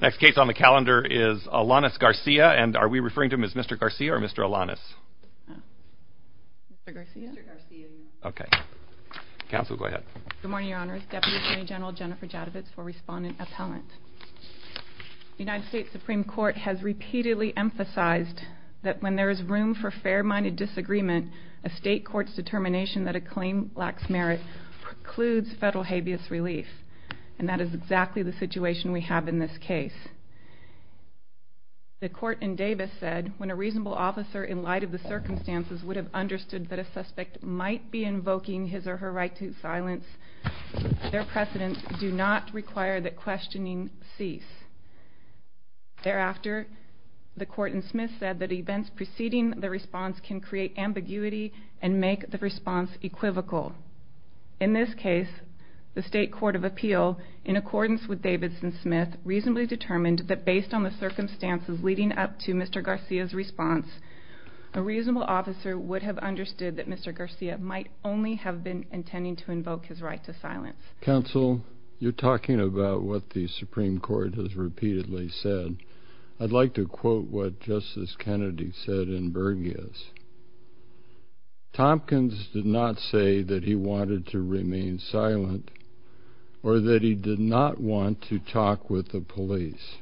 Next case on the calendar is Alanis Garcia, and are we referring to him as Mr. Garcia or Mr. Alanis? Mr. Garcia. Mr. Garcia, yes. Okay. Counsel, go ahead. Good morning, Your Honors. Deputy Attorney General Jennifer Jadavitz for Respondent Appellant. The United States Supreme Court has repeatedly emphasized that when there is room for fair-minded disagreement, a state court's determination that a claim lacks merit precludes federal habeas relief. And that is exactly the situation we have in this case. The court in Davis said, when a reasonable officer, in light of the circumstances, would have understood that a suspect might be invoking his or her right to silence, their precedents do not require that questioning cease. Thereafter, the court in Smith said that events preceding the response can create ambiguity and make the response equivocal. In this case, the state court of appeal, in accordance with Davidson-Smith, reasonably determined that based on the circumstances leading up to Mr. Garcia's response, a reasonable officer would have understood that Mr. Garcia might only have been intending to invoke his right to silence. Counsel, you're talking about what the Supreme Court has repeatedly said. I'd like to quote what Justice Kennedy said in Burgess. Tompkins did not say that he wanted to remain silent or that he did not want to talk with the police.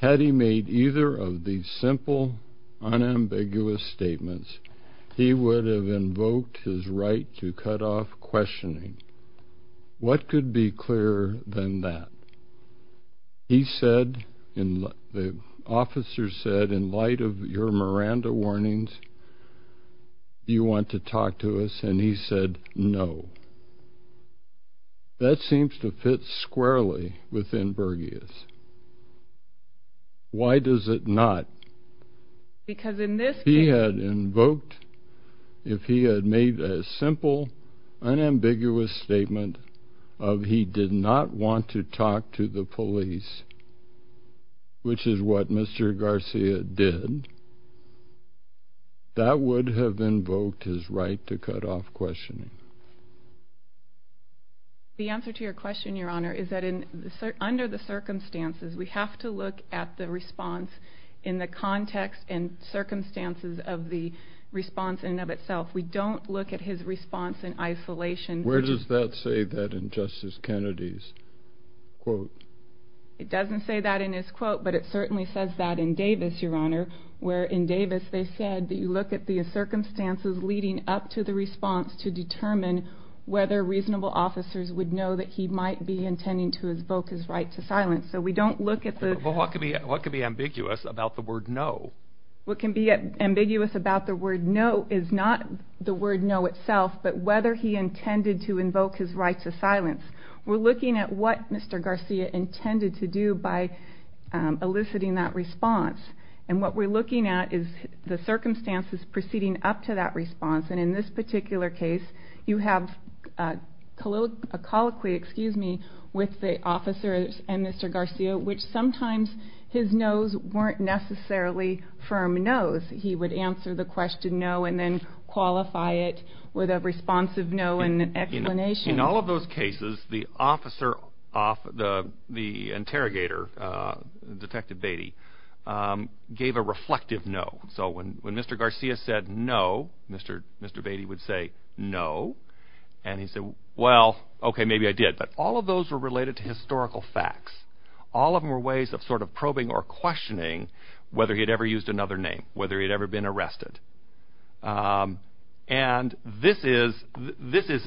Had he made either of these simple, unambiguous statements, he would have invoked his right to cut off questioning. What could be clearer than that? He said, the officer said, in light of your Miranda warnings, do you want to talk to us? And he said, no. That seems to fit squarely within Burgess. Why does it not? He had invoked, if he had made a simple, unambiguous statement of he did not want to talk to the police, which is what Mr. Garcia did, that would have invoked his right to cut off questioning. The answer to your question, Your Honor, is that under the circumstances, we have to look at the response in the context and circumstances of the response in and of itself. We don't look at his response in isolation. Where does that say that in Justice Kennedy's quote? It doesn't say that in his quote, but it certainly says that in Davis, Your Honor, where in Davis they said that you look at the circumstances leading up to the response to determine whether reasonable officers would know that he might be intending to invoke his right to silence. So we don't look at the- Well, what could be ambiguous about the word no? What can be ambiguous about the word no is not the word no itself, but whether he intended to invoke his right to silence. We're looking at what Mr. Garcia intended to do by eliciting that response. And what we're looking at is the circumstances proceeding up to that response. And in this particular case, you have a colloquy with the officers and Mr. Garcia, which sometimes his no's weren't necessarily firm no's. He would answer the question no and then qualify it with a responsive no and an explanation. In all of those cases, the officer, the interrogator, Detective Beatty, gave a reflective no. So when Mr. Garcia said no, Mr. Beatty would say no. And he said, well, okay, maybe I did. But all of those were related to historical facts. All of them were ways of sort of probing or questioning whether he had ever used another name, whether he had ever been arrested. And this is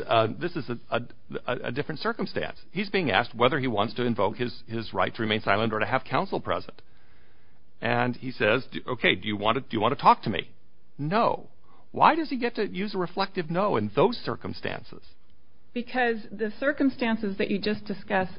a different circumstance. He's being asked whether he wants to invoke his right to remain silent or to have counsel present. And he says, okay, do you want to talk to me? No. Why does he get to use a reflective no in those circumstances? Because the circumstances that you just discussed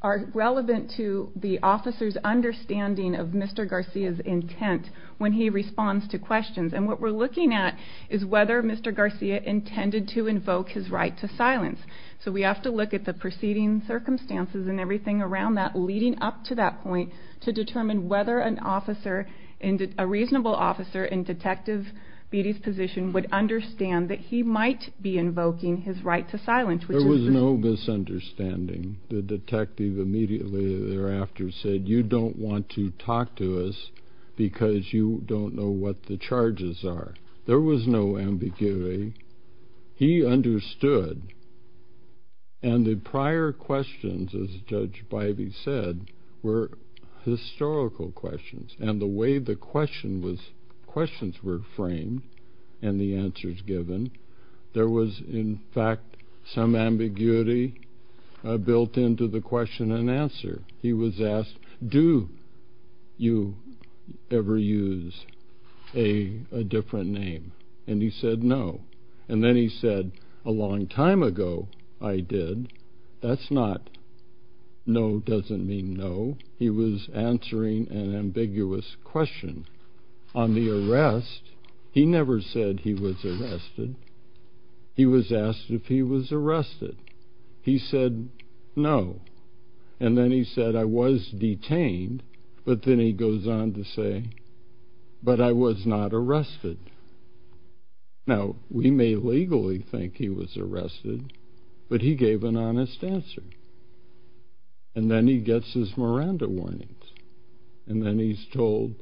are relevant to the officer's understanding of Mr. Garcia's intent when he responds to questions. And what we're looking at is whether Mr. Garcia intended to invoke his right to silence. So we have to look at the preceding circumstances and everything around that leading up to that point to determine whether an officer, a reasonable officer in Detective Beatty's position, would understand that he might be invoking his right to silence. There was no misunderstanding. The detective immediately thereafter said, you don't want to talk to us because you don't know what the charges are. There was no ambiguity. He understood. And the prior questions, as Judge Bivey said, were historical questions. And the way the questions were framed and the answers given, there was, in fact, some ambiguity built into the question and answer. He was asked, do you ever use a different name? And he said no. And then he said, a long time ago I did. That's not no doesn't mean no. He was answering an ambiguous question. On the arrest, he never said he was arrested. He was asked if he was arrested. He said no. And then he said, I was detained. But then he goes on to say, but I was not arrested. Now, we may legally think he was arrested, but he gave an honest answer. And then he gets his Miranda warnings. And then he's told,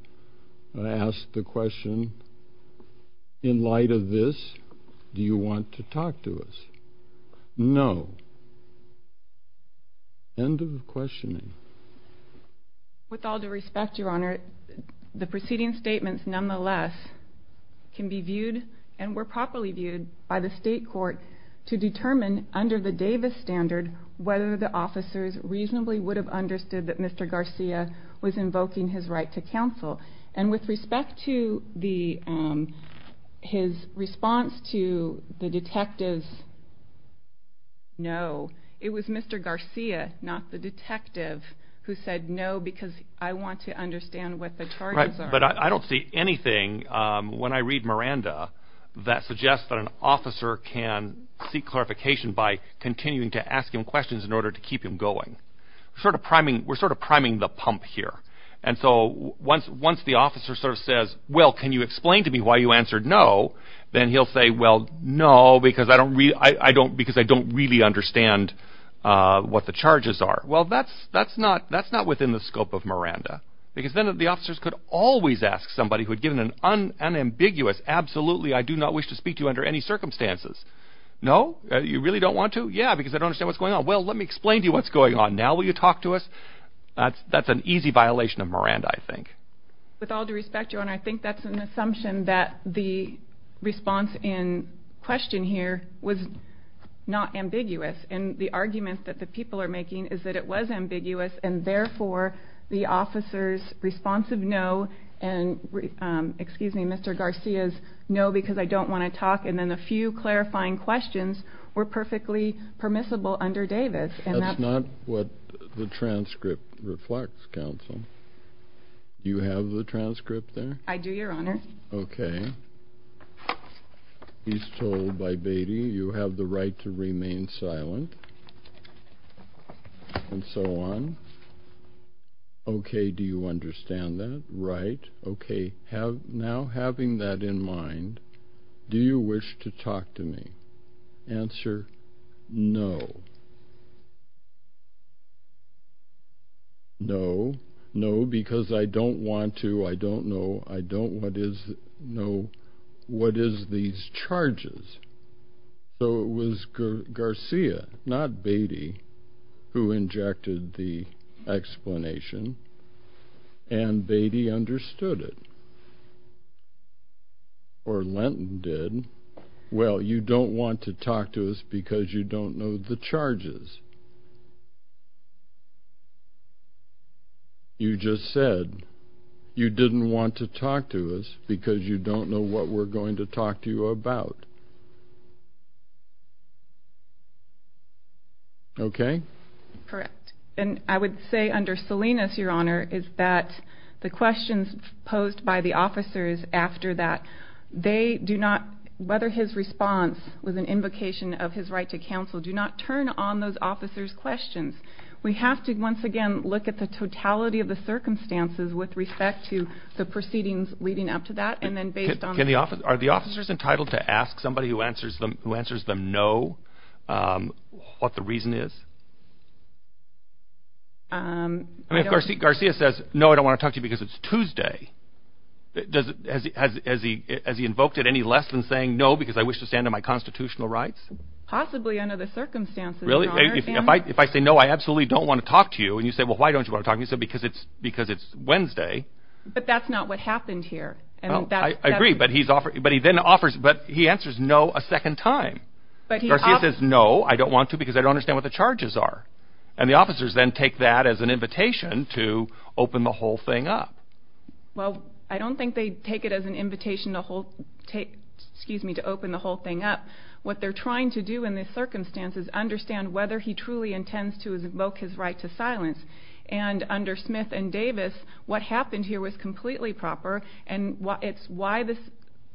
asked the question, in light of this, do you want to talk to us? No. End of the questioning. With all due respect, Your Honor, the preceding statements, nonetheless, can be viewed and were properly viewed by the state court to determine, under the Davis standard, whether the officers reasonably would have understood that Mr. Garcia was invoking his right to counsel. And with respect to his response to the detective's no, it was Mr. Garcia, not the detective, who said no because I want to understand what the charges are. Right, but I don't see anything, when I read Miranda, that suggests that an officer can seek clarification by continuing to ask him questions in order to keep him going. We're sort of priming the pump here. And so once the officer sort of says, well, can you explain to me why you answered no? Then he'll say, well, no, because I don't really understand what the charges are. Well, that's not within the scope of Miranda. Because then the officers could always ask somebody who had given an unambiguous, absolutely, I do not wish to speak to you under any circumstances. No? You really don't want to? Yeah, because I don't understand what's going on. Well, let me explain to you what's going on now. Will you talk to us? That's an easy violation of Miranda, I think. With all due respect, Your Honor, I think that's an assumption that the response in question here was not ambiguous. And the argument that the people are making is that it was ambiguous, and therefore the officers' responsive no and Mr. Garcia's no because I don't want to talk, and then a few clarifying questions were perfectly permissible under Davis. That's not what the transcript reflects, counsel. Do you have the transcript there? I do, Your Honor. Okay. He's told by Beatty you have the right to remain silent, and so on. Okay, do you understand that? Right. Okay, now having that in mind, do you wish to talk to me? Answer, no. No. No, because I don't want to. I don't know. I don't know what is these charges. So it was Garcia, not Beatty, who injected the explanation, and Beatty understood it. Or Lenton did. Well, you don't want to talk to us because you don't know the charges. You just said you didn't want to talk to us because you don't know what we're going to talk to you about. Okay? Correct. And I would say under Salinas, Your Honor, is that the questions posed by the officers after that, they do not, whether his response was an invocation of his right to counsel, do not turn on those officers' questions. We have to, once again, look at the totality of the circumstances with respect to the proceedings leading up to that, Are the officers entitled to ask somebody who answers them no what the reason is? I mean, if Garcia says, no, I don't want to talk to you because it's Tuesday, has he invoked it any less than saying, no, because I wish to stand on my constitutional rights? Possibly under the circumstances, Your Honor. Really? If I say, no, I absolutely don't want to talk to you, and you say, well, why don't you want to talk to me? I say, because it's Wednesday. But that's not what happened here. I agree, but he answers no a second time. Garcia says, no, I don't want to because I don't understand what the charges are. And the officers then take that as an invitation to open the whole thing up. Well, I don't think they take it as an invitation to open the whole thing up. What they're trying to do in this circumstance is understand whether he truly intends to invoke his right to silence. And under Smith and Davis, what happened here was completely proper, and it's why the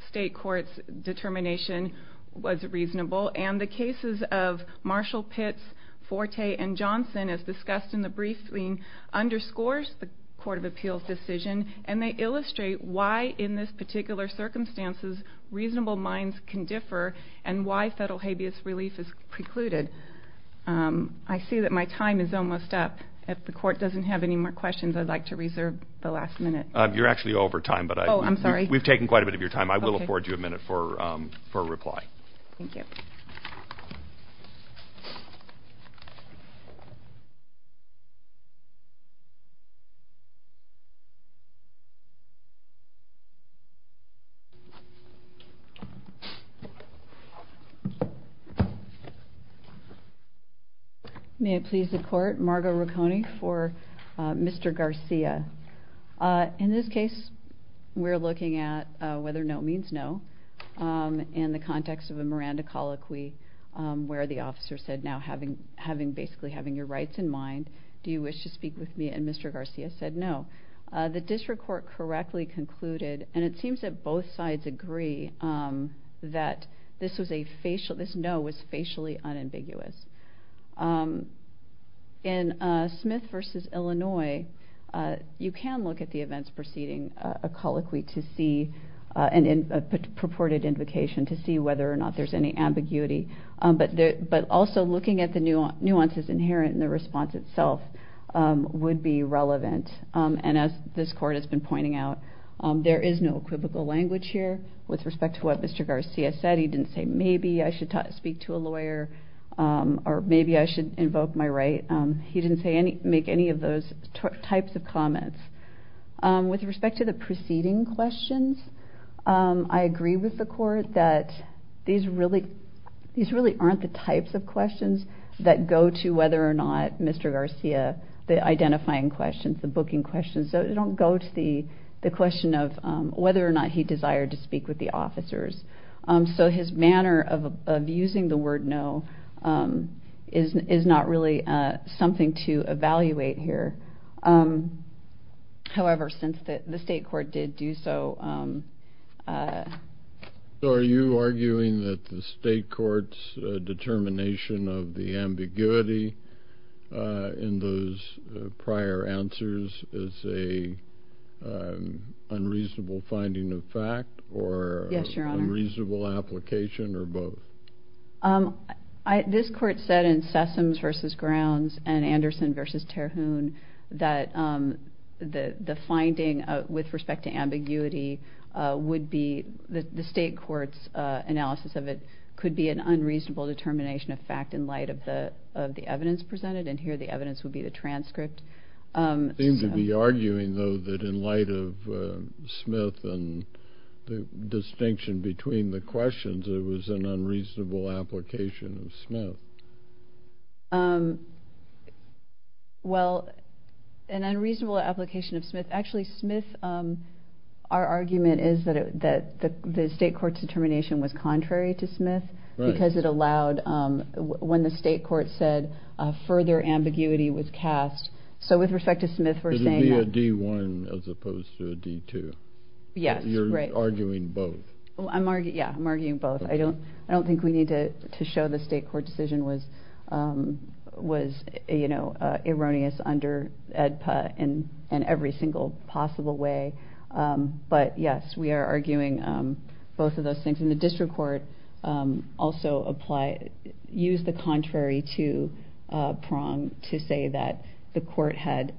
state court's determination was reasonable. And the cases of Marshall, Pitts, Forte, and Johnson, as discussed in the briefing, underscores the Court of Appeals decision, and they illustrate why in this particular circumstances reasonable minds can differ and why federal habeas relief is precluded. I see that my time is almost up. If the court doesn't have any more questions, I'd like to reserve the last minute. You're actually over time. Oh, I'm sorry. We've taken quite a bit of your time. I will afford you a minute for a reply. Thank you. May it please the Court? Margo Ricconi for Mr. Garcia. In this case, we're looking at whether no means no in the context of a Miranda colloquy where the officer said, now having basically having your rights in mind, do you wish to speak with me? And Mr. Garcia said no. The district court correctly concluded, and it seems that both sides agree, that this no was facially unambiguous. In Smith v. Illinois, you can look at the events preceding a colloquy to see a purported invocation to see whether or not there's any ambiguity. But also looking at the nuances inherent in the response itself would be relevant. And as this court has been pointing out, there is no equivocal language here with respect to what Mr. Garcia said. He didn't say maybe I should speak to a lawyer or maybe I should invoke my right. He didn't make any of those types of comments. With respect to the preceding questions, I agree with the Court that these really aren't the types of questions that go to whether or not Mr. Garcia, the identifying questions, the booking questions. They don't go to the question of whether or not he desired to speak with the officers. So his manner of using the word no is not really something to evaluate here. However, since the state court did do so. So are you arguing that the state court's determination of the ambiguity in those prior answers is an unreasonable finding of fact or unreasonable application or both? This court said in Sessoms v. Grounds and Anderson v. Terhune that the finding with respect to ambiguity would be the state court's analysis of it could be an unreasonable determination of fact in light of the evidence presented. And here the evidence would be the transcript. You seem to be arguing, though, that in light of Smith and the distinction between the questions, it was an unreasonable application of Smith. Well, an unreasonable application of Smith. Actually, Smith, our argument is that the state court's determination was contrary to Smith because it allowed, when the state court said further ambiguity was cast. So with respect to Smith, we're saying that. It would be a D-1 as opposed to a D-2. Yes, right. You're arguing both. Yeah, I'm arguing both. I don't think we need to show the state court decision was erroneous under AEDPA in every single possible way. But, yes, we are arguing both of those things. And the district court also used the contrary to Prong to say that the court had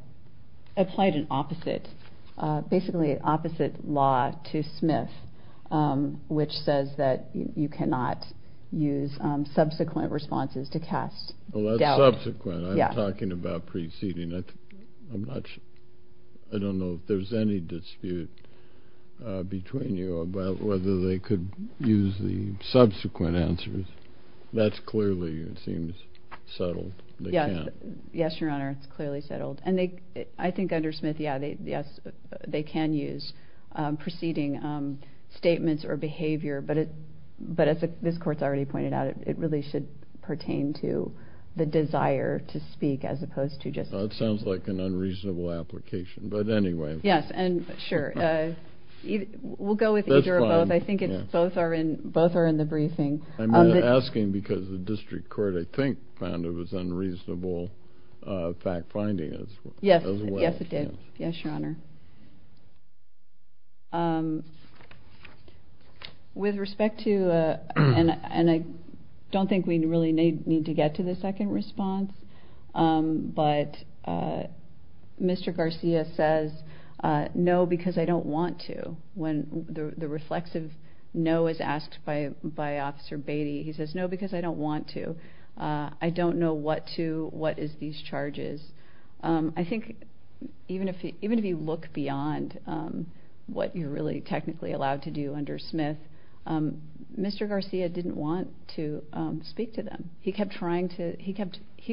applied an opposite, basically opposite law to Smith, which says that you cannot use subsequent responses to cast doubt. Well, that's subsequent. I'm talking about preceding. I'm not sure. I don't know if there's any dispute between you about whether they could use the subsequent answers. That's clearly, it seems, settled. Yes, Your Honor, it's clearly settled. And I think under Smith, yes, they can use preceding statements or behavior. But as this Court's already pointed out, it really should pertain to the desire to speak as opposed to just speaking. That sounds like an unreasonable application. But anyway. Yes, and sure. We'll go with either or both. I think both are in the briefing. I'm asking because the district court, I think, found it was unreasonable fact-finding as well. Yes, it did. Yes, Your Honor. With respect to, and I don't think we really need to get to the second response, but Mr. Garcia says, no, because I don't want to. When the reflexive no is asked by Officer Beatty, he says, no, because I don't want to. I don't know what to, what is these charges. I think even if you look beyond what you're really technically allowed to do under Smith, Mr. Garcia didn't want to speak to them. He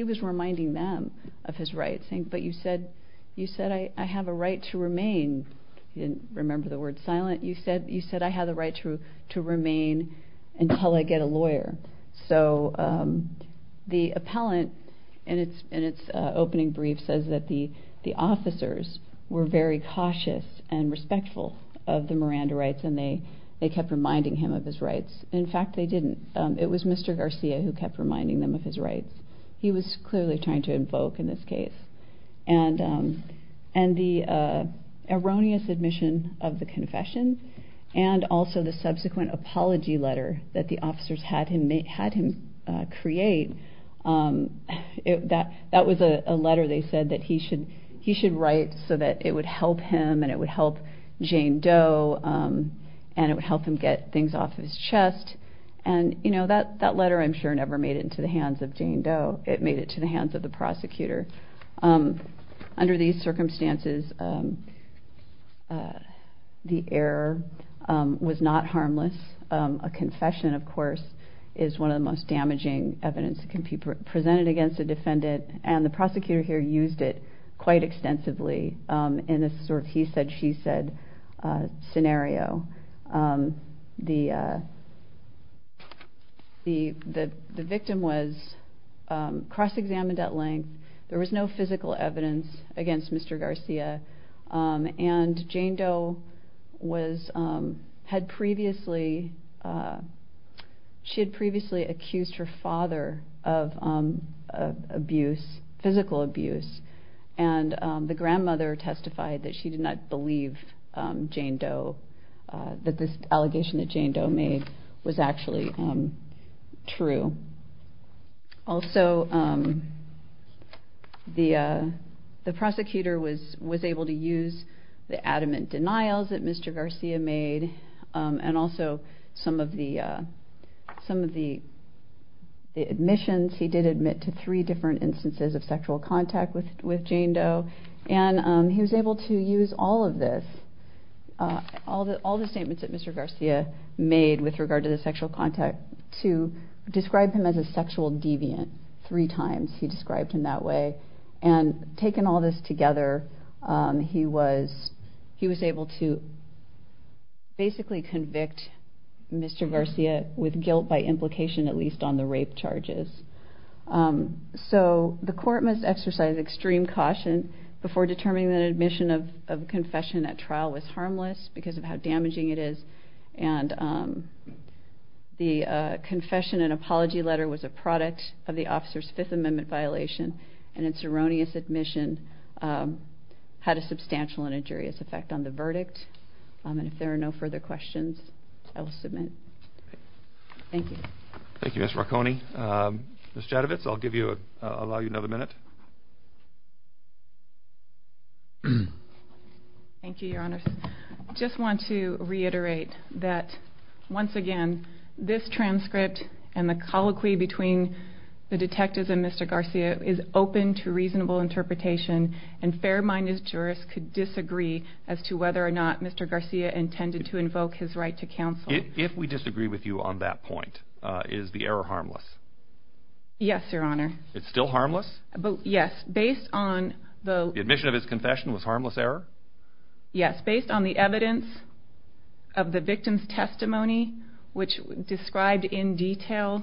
was reminding them of his rights, saying, but you said I have a right to remain. He didn't remember the word silent. You said I have the right to remain until I get a lawyer. So the appellant in its opening brief says that the officers were very cautious and respectful of the Miranda rights, and they kept reminding him of his rights. In fact, they didn't. It was Mr. Garcia who kept reminding them of his rights. He was clearly trying to invoke in this case. And the erroneous admission of the confession and also the subsequent apology letter that the officers had him create, that was a letter they said that he should write so that it would help him and it would help Jane Doe and it would help him get things off his chest. And that letter, I'm sure, never made it into the hands of Jane Doe. It made it to the hands of the prosecutor. Under these circumstances, the error was not harmless. A confession, of course, is one of the most damaging evidence that can be presented against a defendant, and the prosecutor here used it quite extensively in this sort of he said, she said scenario. The victim was cross-examined at length. There was no physical evidence against Mr. Garcia, and Jane Doe had previously accused her father of abuse, physical abuse. And the grandmother testified that she did not believe Jane Doe, that this allegation that Jane Doe made was actually true. Also, the prosecutor was able to use the adamant denials that Mr. Garcia made and also some of the admissions he did admit to three different instances of sexual contact with Jane Doe. And he was able to use all of this, all the statements that Mr. Garcia made with regard to the sexual contact, to describe him as a sexual deviant three times he described him that way. And taking all this together, he was able to basically convict Mr. Garcia with guilt by implication, at least on the rape charges. So the court must exercise extreme caution before determining that admission of confession at trial was harmless because of how damaging it is. And the confession and apology letter was a product of the officer's Fifth Amendment violation, and its erroneous admission had a substantial and injurious effect on the verdict. And if there are no further questions, I will submit. Thank you. Thank you, Ms. Marconi. Ms. Jadavitz, I'll allow you another minute. Thank you, Your Honors. I just want to reiterate that, once again, this transcript and the colloquy between the detectives and Mr. Garcia is open to reasonable interpretation, and fair-minded jurists could disagree as to whether or not Mr. Garcia intended to invoke his right to counsel. If we disagree with you on that point, is the error harmless? Yes, Your Honor. It's still harmless? Yes, based on the... The admission of his confession was harmless error? Yes, based on the evidence of the victim's testimony, which described in detail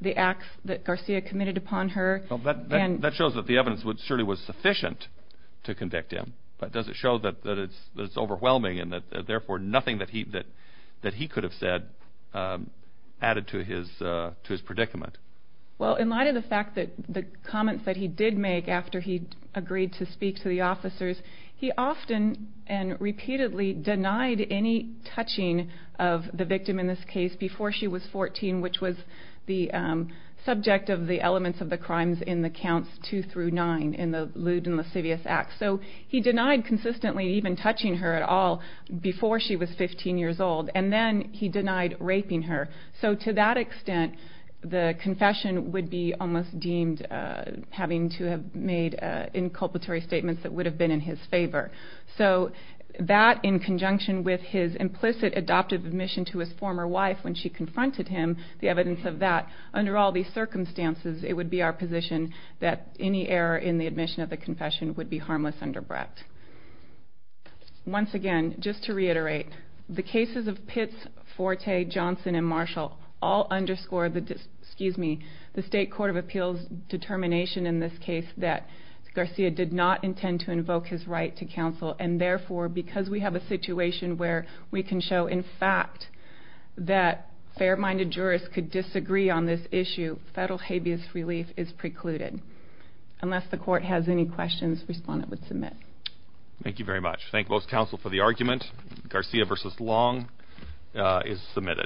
the acts that Garcia committed upon her. That shows that the evidence surely was sufficient to convict him, but does it show that it's overwhelming and, therefore, nothing that he could have said added to his predicament? Well, in light of the fact that the comments that he did make after he agreed to speak to the officers, he often and repeatedly denied any touching of the victim in this case before she was 14, which was the subject of the elements of the crimes in the Counts 2 through 9 in the Lewd and Lascivious Acts. So he denied consistently even touching her at all before she was 15 years old, and then he denied raping her. So to that extent, the confession would be almost deemed having to have made inculpatory statements that would have been in his favor. So that, in conjunction with his implicit adoptive admission to his former wife when she confronted him, the evidence of that, under all these circumstances, it would be our position that any error in the admission of the confession would be harmless under breadth. Once again, just to reiterate, the cases of Pitts, Forte, Johnson, and Marshall all underscore the State Court of Appeals determination in this case that Garcia did not intend to invoke his right to counsel, and therefore, because we have a situation where we can show, in fact, that fair-minded jurists could disagree on this issue, federal habeas relief is precluded. Unless the Court has any questions, respondent would submit. Thank you very much. Thank both counsel for the argument. Garcia v. Long is submitted.